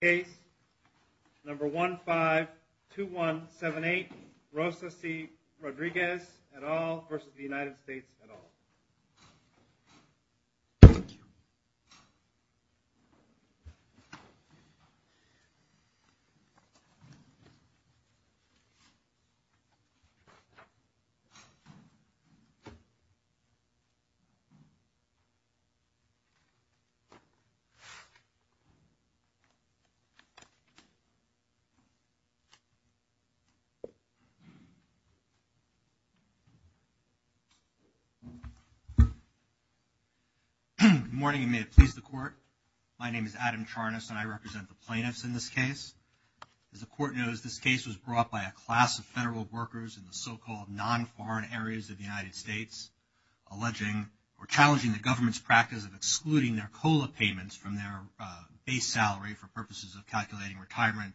case number 152178, Rosa C. Rodriguez et al. versus the United States et al. Good morning, and may it please the court. My name is Adam Charnas, and I represent the plaintiffs in this case. As the court knows, this case was brought by a class of federal workers in the so-called non-foreign areas of the United States, alleging or challenging the government's practice of abuses of calculating retirement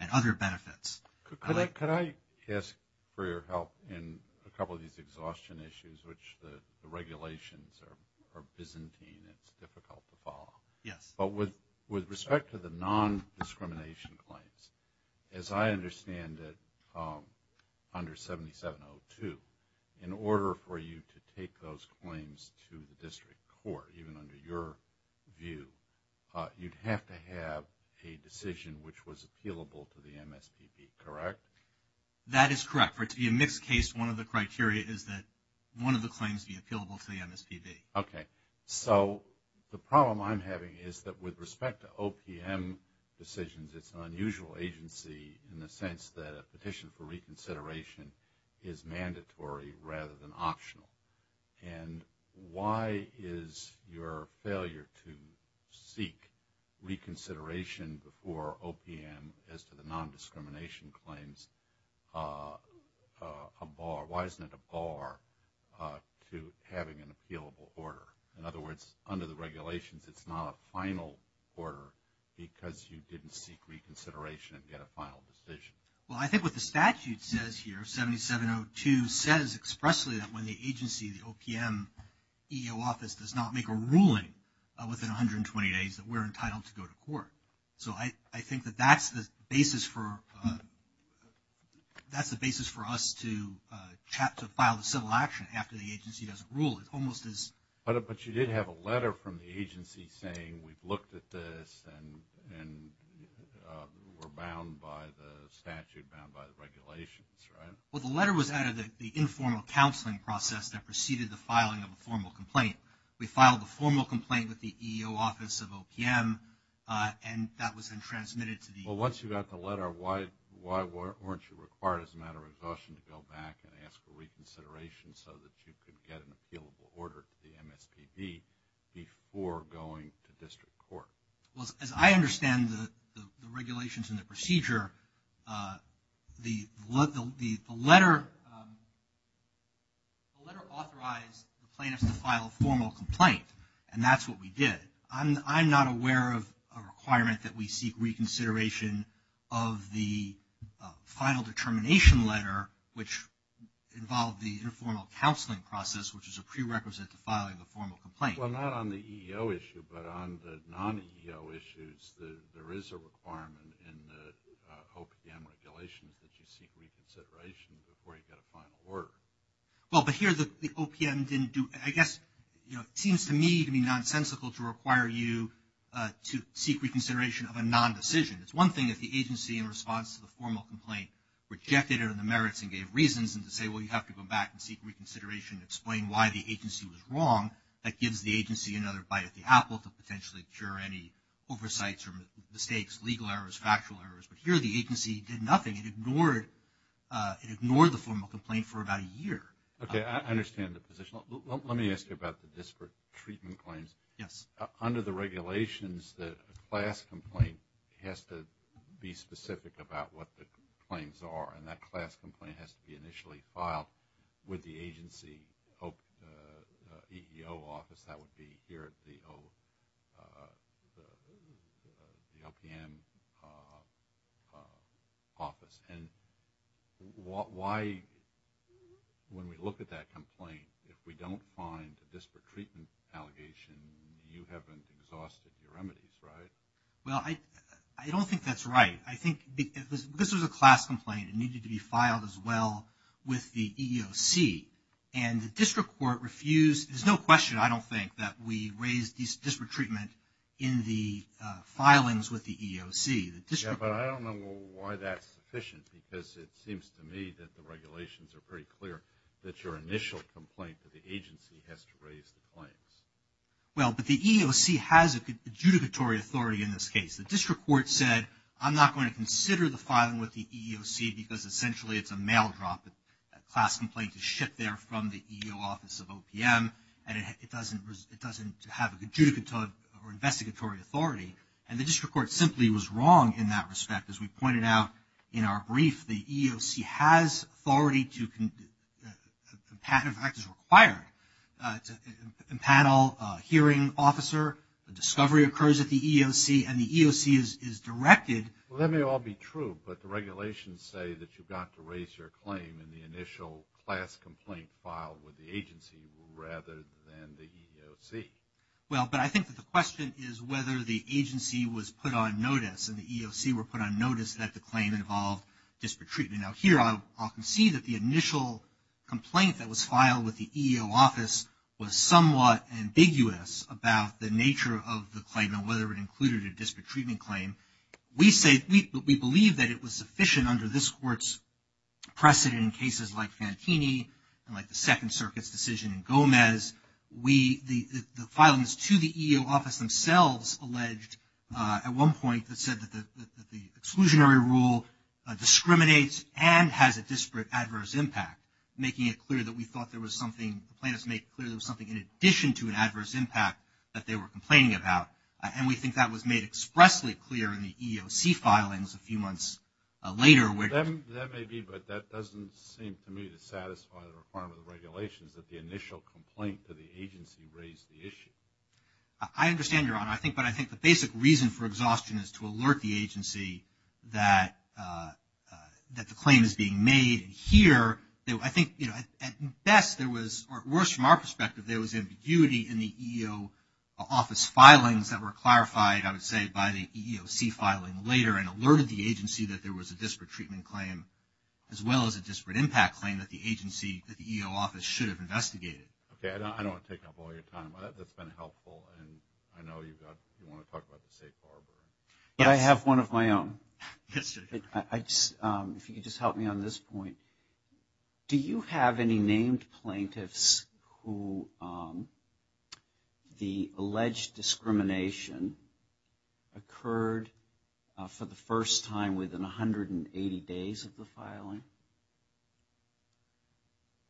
and other benefits. Could I ask for your help in a couple of these exhaustion issues, which the regulations are byzantine and it's difficult to follow? Yes. But with respect to the non-discrimination claims, as I understand it, under 7702, in order for you to take those claims to the district court, even under your view, you'd have to have a decision which was appealable to the MSPB, correct? That is correct. For it to be a mixed case, one of the criteria is that one of the claims be appealable to the MSPB. Okay. So the problem I'm having is that with respect to OPM decisions, it's an unusual agency in And why is your failure to seek reconsideration before OPM as to the non-discrimination claims a bar? Why isn't it a bar to having an appealable order? In other words, under the regulations, it's not a final order because you didn't seek reconsideration and get a final decision. Well, I think what the statute says here, 7702, says expressly that when the agency, the OPM EO office, does not make a ruling within 120 days, that we're entitled to go to court. So I think that that's the basis for us to file a civil action after the agency doesn't rule. It almost is. But you did have a letter from the agency saying, we've looked at this and we're bound by the statute, bound by the regulations, right? Well, the letter was out of the informal counseling process that preceded the filing of a formal complaint. We filed a formal complaint with the EO office of OPM and that was then transmitted to the Well, once you got the letter, why weren't you required as a matter of exhaustion to go back and ask for reconsideration so that you could get an appealable order to the MSPB before going to district court? Well, as I understand the regulations and the procedure, the letter authorized the plaintiffs to file a formal complaint. And that's what we did. I'm not aware of a requirement that we seek reconsideration of the final determination letter, which involved the informal counseling process, which is a prerequisite to filing the formal complaint. Well, not on the EO issue, but on the non-EO issues, there is a requirement in the OPM regulations that you seek reconsideration before you get a final order. Well, but here the OPM didn't do, I guess, you know, it seems to me to be nonsensical to require you to seek reconsideration of a non-decision. It's one thing if the agency, in response to the formal complaint, rejected it in the merits and gave reasons and to say, well, you have to go back and seek reconsideration and explain why the agency was wrong. That gives the agency another bite at the apple to potentially cure any oversights or mistakes, legal errors, factual errors. But here the agency did nothing. It ignored the formal complaint for about a year. Okay, I understand the position. Let me ask you about the district treatment claims. Yes. Under the regulations, the class complaint has to be specific about what the claims are. And that class complaint has to be initially filed with the agency EEO office. That would be here at the OPM office. And why, when we look at that complaint, if we don't find a district treatment allegation, you haven't exhausted your remedies, right? Well, I don't think that's right. Because this was a class complaint, it needed to be filed as well with the EEOC. And the district court refused, there's no question, I don't think, that we raised this district treatment in the filings with the EEOC. Yeah, but I don't know why that's sufficient because it seems to me that the regulations are pretty clear that your initial complaint to the agency has to raise the claims. Well, but the EEOC has adjudicatory authority in this case. The district court said, I'm not going to consider the filing with the EEOC because essentially it's a mail drop, a class complaint to ship there from the EEOC office of OPM and it doesn't have an adjudicatory or investigatory authority. And the district court simply was wrong in that respect. As we pointed out in our brief, the EEOC has authority to, in fact is required, to impanel a hearing officer, a discovery occurs at the EEOC and the EEOC is directed. Well, that may all be true, but the regulations say that you've got to raise your claim in the initial class complaint filed with the agency rather than the EEOC. Well, but I think that the question is whether the agency was put on notice and the EEOC were put on notice that the claim involved district treatment. Now, here I'll concede that the initial complaint that was filed with the EEO office was somewhat ambiguous about the nature of the claim and whether it included a district treatment claim. We say, we believe that it was sufficient under this court's precedent in cases like Fantini and like the Second Circuit's decision in Gomez. The filings to the EEOC themselves alleged at one point that said that the exclusionary rule discriminates and has a disparate adverse impact, making it clear that we thought there was something in addition to an adverse impact that they were complaining about. And we think that was made expressly clear in the EEOC filings a few months later. That may be, but that doesn't seem to me to satisfy the requirement of regulations that the initial complaint to the agency raised the issue. I understand, Your Honor. But I think the basic reason for exhaustion is to alert the agency that the claim is being made here. I think at best there was, or worse from our perspective, there was ambiguity in the EEO office filings that were clarified, I would say, by the EEOC filing later and alerted the agency that there was a disparate treatment claim as well as a disparate impact claim that the agency, that the EEO office should have investigated. Okay. I don't want to take up all your time. That's been helpful. And I know you want to talk about the safe harbor. But I have one of my own. Yes, sir. If you could just help me on this point. Do you have any named plaintiffs who the alleged discrimination occurred for the first time within 180 days of the filing?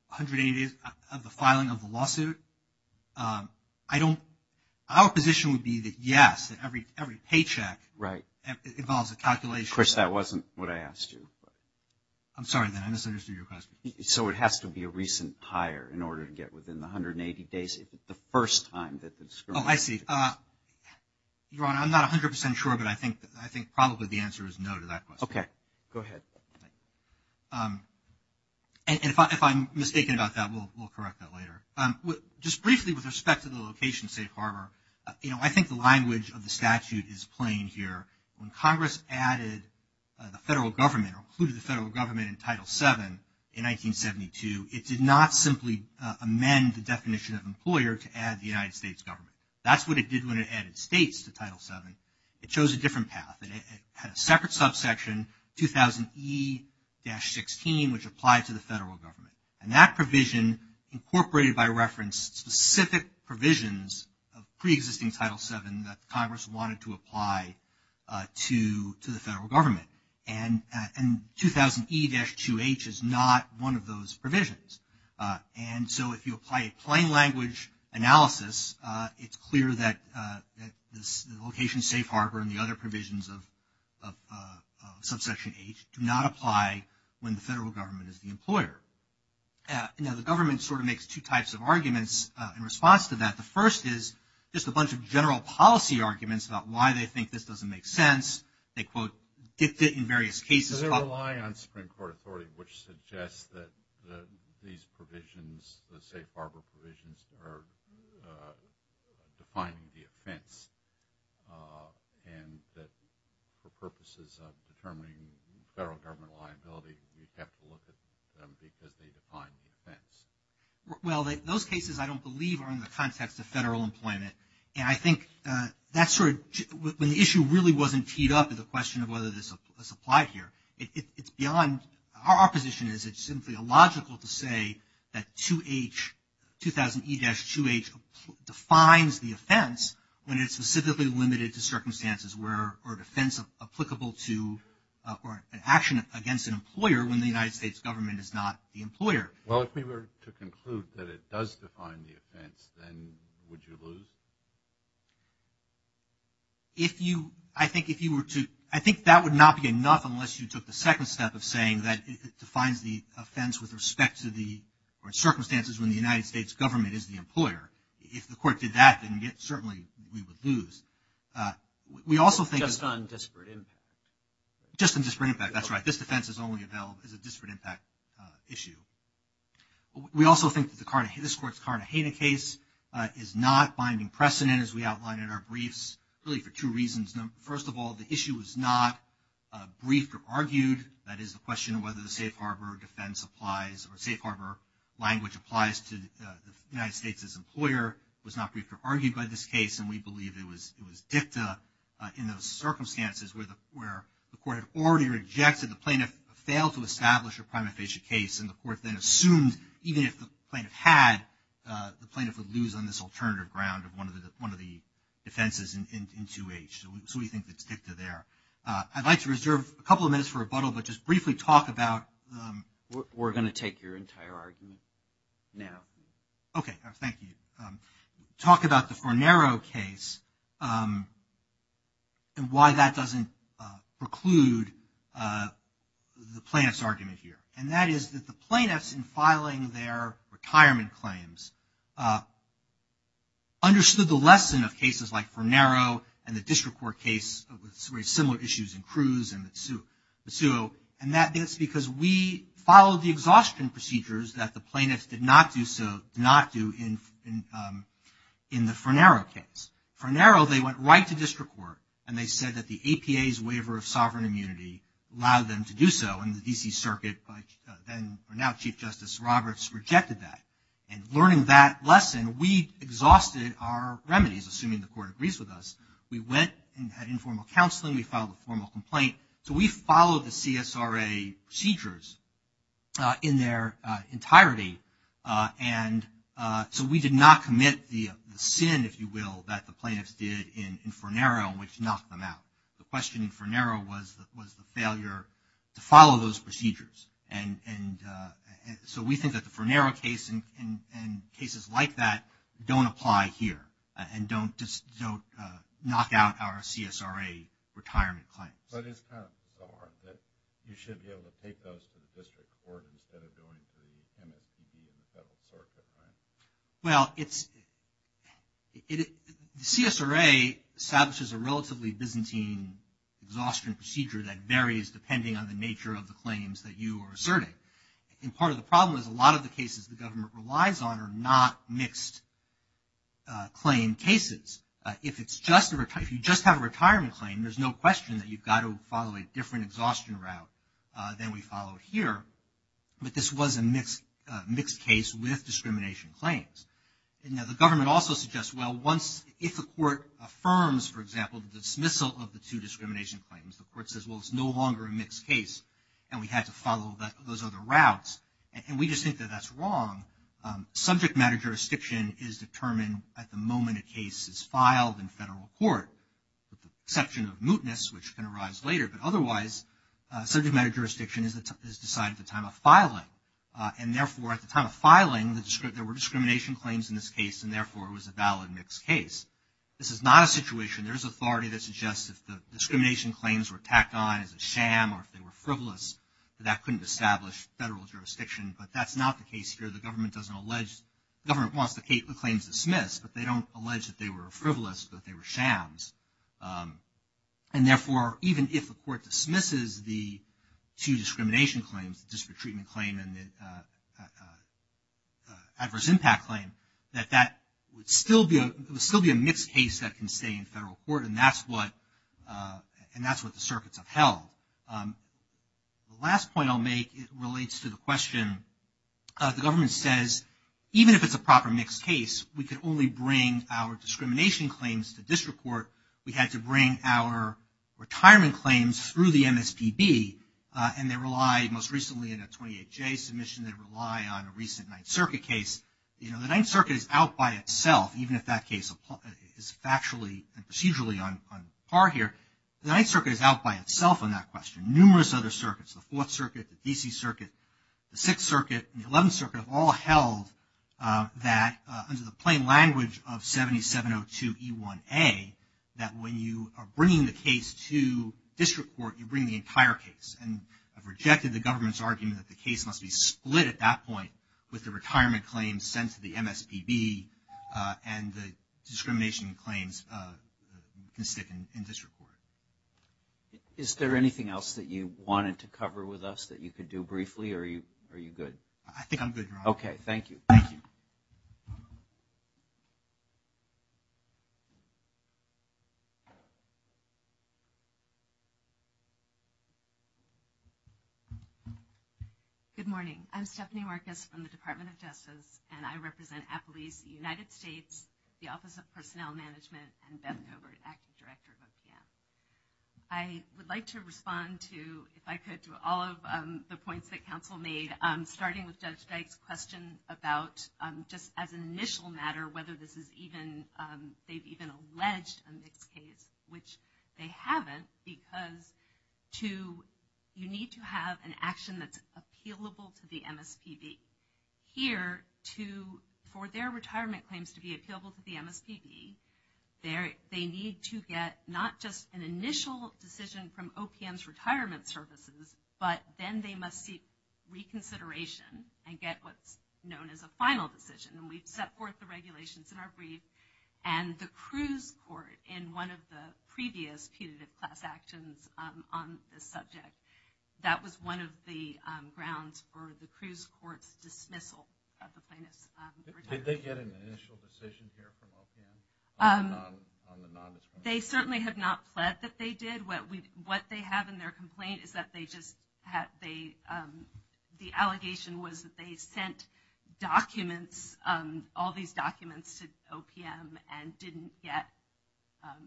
180 days of the filing of the lawsuit? I don't, our position would be that yes, that every paycheck involves a calculation. Of course, that wasn't what I asked you. I'm sorry, then. I misunderstood your question. So it has to be a recent hire in order to get within the 180 days of the first time that the discrimination occurred. Oh, I see. Your Honor, I'm not 100 percent sure, but I think probably the answer is no to that question. Okay. Go ahead. And if I'm mistaken about that, we'll correct that later. Just briefly with respect to the location safe harbor, you know, I think the language of the statute is plain here. When Congress added the federal government or included the federal government in Title VII in 1972, it did not simply amend the definition of employer to add the United States government. That's what it did when it added states to Title VII. It chose a different path. It had a separate subsection, 2000E-16, which applied to the federal government. And that provision incorporated by reference specific provisions of preexisting Title VII that Congress wanted to apply to the federal government. And 2000E-2H is not one of those provisions. And so if you apply a plain language analysis, it's clear that this location safe harbor and the other provisions of subsection H do not apply when the federal government is the employer. Now, the government sort of makes two types of arguments in response to that. The first is just a bunch of general policy arguments about why they think this doesn't make sense. They, quote, dictate in various cases. Does it rely on Supreme Court authority which suggests that these provisions, the safe harbor provisions, are defining the offense and that for purposes of determining federal government liability, we have to look at them because they define the offense? Well, those cases, I don't believe, are in the context of federal employment. And I think that sort of, when the issue really wasn't teed up at the question of whether this applied here, it's beyond, our position is it's simply illogical to say that 2000E-2H defines the offense when it's specifically limited to circumstances where, or defense applicable to, or an action against an employer when the United States government is not the employer. Well, if we were to conclude that it does define the offense, then would you lose? If you, I think if you were to, I think that would not be enough unless you took the second step of saying that it defines the offense with respect to the, or circumstances when the United States government is the employer. If the court did that, then certainly we would lose. We also think- Just on disparate impact. Just on disparate impact, that's right. This defense is only available as a disparate impact issue. We also think that this court's Cartagena case is not binding precedent, as we outlined in our briefs, really for two reasons. First of all, the issue was not briefed or argued. That is the question of whether the safe harbor defense applies, or safe harbor language applies to the United States' employer was not briefed or argued by this case. And we believe it was dicta in those circumstances where the court had already rejected the plaintiff and failed to establish a prima facie case, and the court then assumed even if the plaintiff had, the plaintiff would lose on this alternative ground of one of the defenses in 2H. So we think it's dicta there. I'd like to reserve a couple of minutes for rebuttal, but just briefly talk about- We're going to take your entire argument now. Okay. Thank you. Talk about the Fornero case and why that doesn't preclude the plaintiff's argument here. And that is that the plaintiffs, in filing their retirement claims, understood the lesson of cases like Fornero and the district court case with very similar issues in Cruz and Mitsuo, and that's because we followed the exhaustion procedures that the plaintiffs did not do in the Fornero case. Fornero, they went right to district court, and they said that the APA's waiver of sovereign immunity allowed them to do so, and the D.C. Circuit, then or now Chief Justice Roberts, rejected that. And learning that lesson, we exhausted our remedies, assuming the court agrees with us. We went and had informal counseling. We filed a formal complaint. So we followed the CSRA procedures in their entirety, and so we did not commit the sin, if you will, that the plaintiffs did in Fornero, which knocked them out. The question in Fornero was the failure to follow those procedures. And so we think that the Fornero case and cases like that don't apply here and don't knock out our CSRA retirement claims. But it's kind of bizarre that you should be able to take those to the district court instead of going to the NACB and several sorts of plaintiffs. Well, CSRA establishes a relatively Byzantine exhaustion procedure that varies depending on the nature of the claims that you are asserting. And part of the problem is a lot of the cases the government relies on are not mixed claim cases. If you just have a retirement claim, there's no question that you've got to follow a different exhaustion route than we followed here. But this was a mixed case with discrimination claims. Now, the government also suggests, well, if the court affirms, for example, the dismissal of the two discrimination claims, the court says, well, it's no longer a mixed case and we had to follow those other routes. And we just think that that's wrong. Subject matter jurisdiction is determined at the moment a case is filed in federal court with the exception of mootness, which can arise later. But otherwise, subject matter jurisdiction is decided at the time of filing. And therefore, at the time of filing, there were discrimination claims in this case and therefore it was a valid mixed case. This is not a situation, there is authority that suggests if the discrimination claims were tacked on as a sham or if they were frivolous, that that couldn't establish federal jurisdiction. But that's not the case here. The government doesn't allege, the government wants the claims dismissed, but they don't allege that they were frivolous, that they were shams. And therefore, even if the court dismisses the two discrimination claims, the disparate treatment claim and the adverse impact claim, that that would still be a mixed case that can stay in federal court and that's what the circuits have held. The last point I'll make relates to the question, the government says even if it's a proper mixed case, we can only bring our discrimination claims to district court. We had to bring our retirement claims through the MSPB and they relied most recently in a 28-J submission, they rely on a recent Ninth Circuit case. You know, the Ninth Circuit is out by itself, even if that case is factually and procedurally on par here. The Ninth Circuit is out by itself on that question. Numerous other circuits, the Fourth Circuit, the D.C. Circuit, the Sixth Circuit, and the Eleventh Circuit have all held that, under the plain language of 7702E1A, that when you are bringing the case to district court, you bring the entire case. And I've rejected the government's argument that the case must be split at that point with the retirement claims sent to the MSPB and the discrimination claims can stick in there. Is there anything else that you wanted to cover with us that you could do briefly, or are you good? I think I'm good, Your Honor. Okay. Thank you. Thank you. Good morning. I'm Stephanie Marcus from the Department of Justice, and I represent Applebee's United I would like to respond to, if I could, to all of the points that counsel made, starting with Judge Dyke's question about, just as an initial matter, whether they've even alleged a mixed case, which they haven't, because you need to have an action that's appealable to the MSPB. Here, for their retirement claims to be appealable to the MSPB, they need to get not just an initial decision from OPM's retirement services, but then they must seek reconsideration and get what's known as a final decision. And we've set forth the regulations in our brief, and the Cruz Court, in one of the previous punitive class actions on this subject, that was one of the grounds for the Cruz Court's dismissal of the plaintiff's retirement. Did they get an initial decision here from OPM on the non-disclosure? They certainly have not pled that they did. What they have in their complaint is that they just, the allegation was that they sent documents, all these documents to OPM, and didn't get,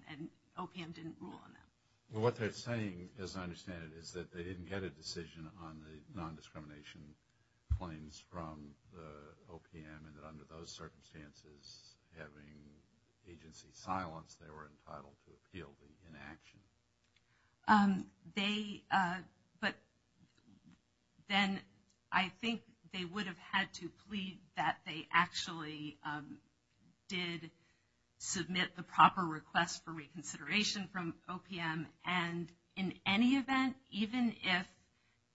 and OPM didn't rule on them. What they're saying, as I understand it, is that they didn't get a decision on the non-discrimination claims from the OPM, and that under those circumstances, having agency in silence, they were entitled to appeal the inaction. They, but then I think they would have had to plead that they actually did submit the proper request for reconsideration from OPM, and in any event, even if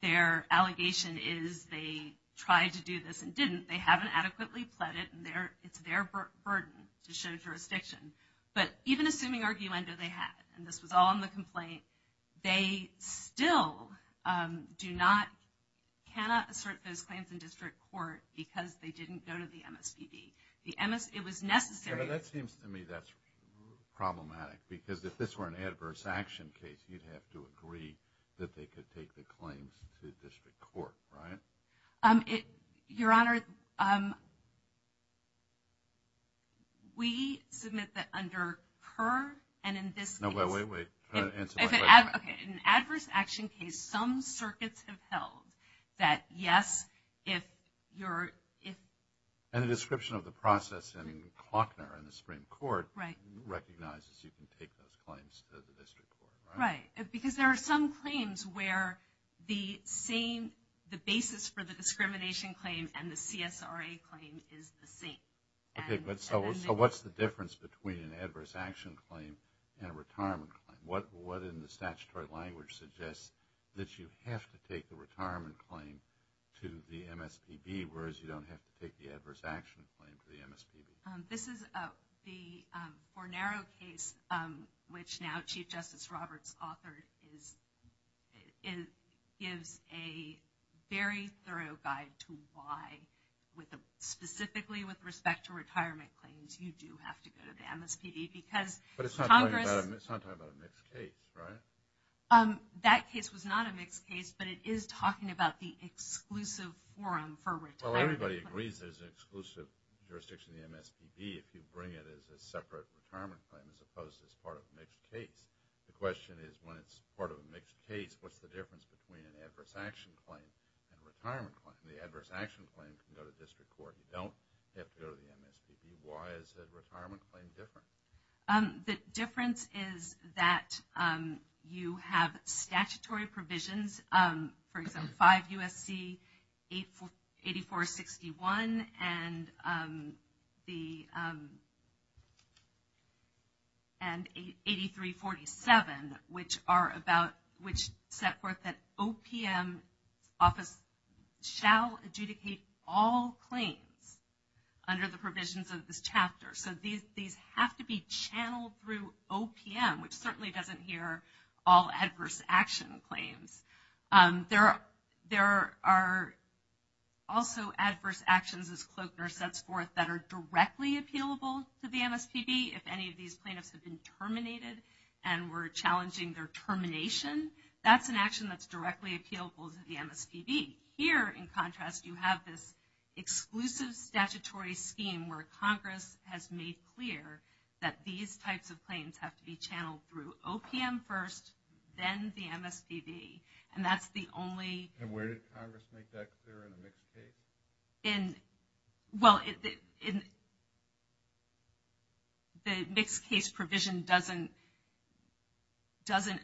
their allegation is they tried to do this and didn't, they haven't adequately pled it, and it's their burden to show jurisdiction, but even assuming arguendo they had, and this was all in the complaint, they still do not, cannot assert those claims in district court because they didn't go to the MSPB. The MS, it was necessary. Yeah, but that seems to me that's problematic, because if this were an adverse action case, you'd have to agree that they could take the claim to district court, right? Your Honor, we submit that under PER, and in this case... No, wait, wait, wait. Try to answer my question. Okay, in an adverse action case, some circuits have held that yes, if you're, if... And the description of the process in Faulkner in the Supreme Court recognizes you can take those claims to the district court, right? Right, because there are some claims where the same, the basis for the discrimination claim and the CSRA claim is the same. Okay, but so what's the difference between an adverse action claim and a retirement claim? What in the statutory language suggests that you have to take the retirement claim to the MSPB, whereas you don't have to take the adverse action claim to the MSPB? This is the Bornero case, which now Chief Justice Roberts authored, is, gives a very thorough guide to why, specifically with respect to retirement claims, you do have to go to the MSPB, because Congress... But it's not talking about a mixed case, right? That case was not a mixed case, but it is talking about the exclusive forum for retirement claims. Well, everybody agrees there's an exclusive jurisdiction in the MSPB if you bring it as a separate retirement claim as opposed to as part of a mixed case. The question is, when it's part of a mixed case, what's the difference between an adverse action claim and a retirement claim? The adverse action claim can go to district court. You don't have to go to the MSPB. Why is the retirement claim different? The difference is that you have statutory provisions. For example, 5 U.S.C. 8461 and 8347, which are about, which set forth that OPM office shall adjudicate all claims under the provisions of this chapter. So these have to be channeled through OPM, which certainly doesn't hear all adverse action claims. There are also adverse actions, as Klochner sets forth, that are directly appealable to the MSPB. If any of these plaintiffs have been terminated and we're challenging their termination, that's an action that's directly appealable to the MSPB. Here, in contrast, you have this exclusive statutory scheme where Congress has made clear that these types of claims have to be channeled through OPM first, then the MSPB. And that's the only... And where does Congress make that clear in a mixed case? Well, the mixed case provision doesn't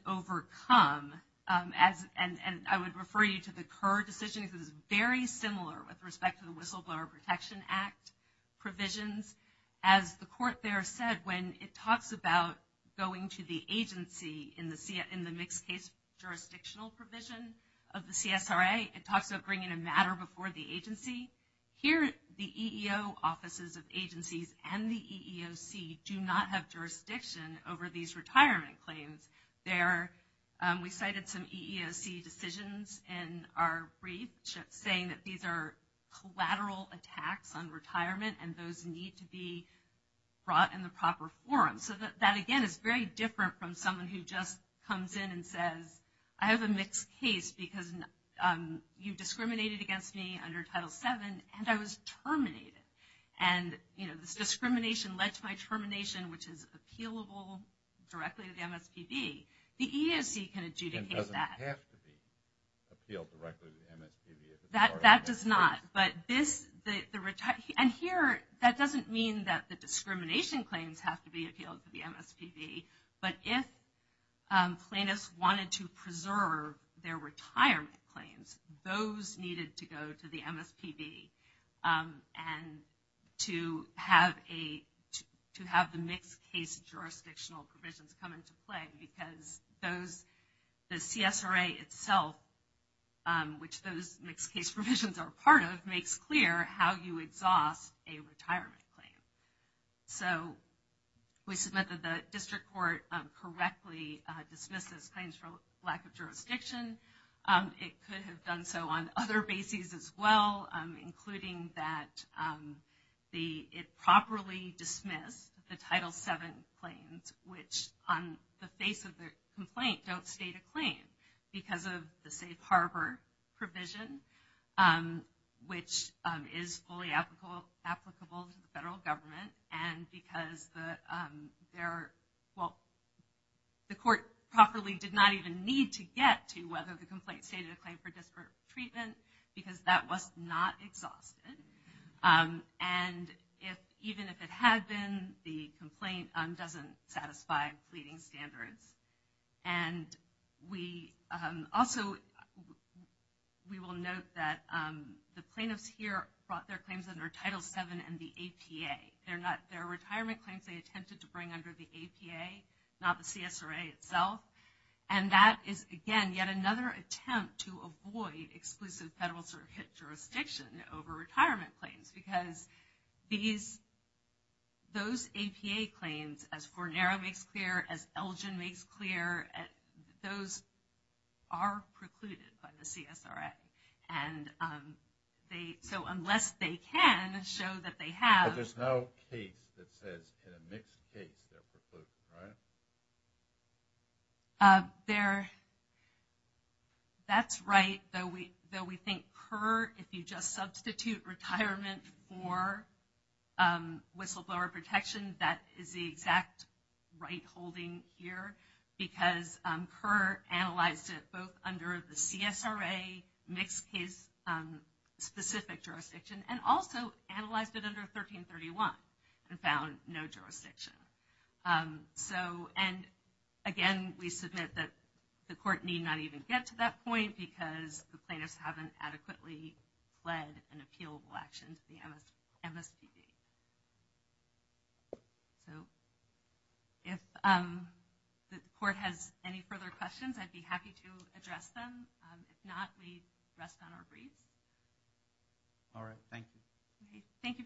overcome, and I would refer you to the Kerr decision, because it's very similar with respect to the Whistleblower Protection Act provisions. As the Court there said, when it talks about going to the agency in the mixed case jurisdictional provision of the CSRA, it talks about bringing a matter before the agency. Here, the EEO offices of agencies and the EEOC do not have jurisdiction over these retirement claims. We cited some EEOC decisions in our brief, saying that these are collateral attacks on retirement, and those need to be brought in the proper forum. That, again, is very different from someone who just comes in and says, I have a mixed case because you discriminated against me under Title VII, and I was terminated. This discrimination led to my termination, which is appealable directly to the MSPB. The EEOC can adjudicate that. It doesn't have to be appealed directly to the MSPB. That does not. Here, that doesn't mean that the discrimination claims have to be appealed to the MSPB, but if plaintiffs wanted to preserve their retirement claims, those needed to go to the MSPB and to have the mixed case jurisdictional provisions come into play, because the CSRA itself, which those mixed case provisions are part of, makes clear how you exhaust a retirement claim. So, we submit that the district court correctly dismisses claims for lack of jurisdiction. It could have done so on other bases as well, including that it properly dismissed the Title VII claims, which on the face of the complaint don't state a claim because of the safe harbor provision, which is fully applicable to the federal government, and because the court properly did not even need to get to whether the complaint stated a claim for disparate treatment, because that was not exhausted. And even if it had been, the complaint doesn't satisfy pleading standards. And we also, we will note that the plaintiffs here brought their claims under Title VII and the APA. They're retirement claims they attempted to bring under the APA, not the CSRA itself, and that is, again, yet another attempt to avoid exclusive federal circuit jurisdiction over retirement claims, because those APA claims, as Fornero makes clear, as Elgin makes clear, those are precluded by the CSRA. So, unless they can show that they have... That's right. Though we think PER, if you just substitute retirement for whistleblower protection, that is the exact right holding here, because PER analyzed it both under the CSRA, mixed case specific jurisdiction, and also analyzed it under 1331 and found no jurisdiction. So, and again, we submit that the court need not even get to that point, because the plaintiffs haven't adequately led an appealable action to the MSPB. So, if the court has any further questions, I'd be happy to address them. If not, we rest on our feet. All right. Thank you. Thank you very much.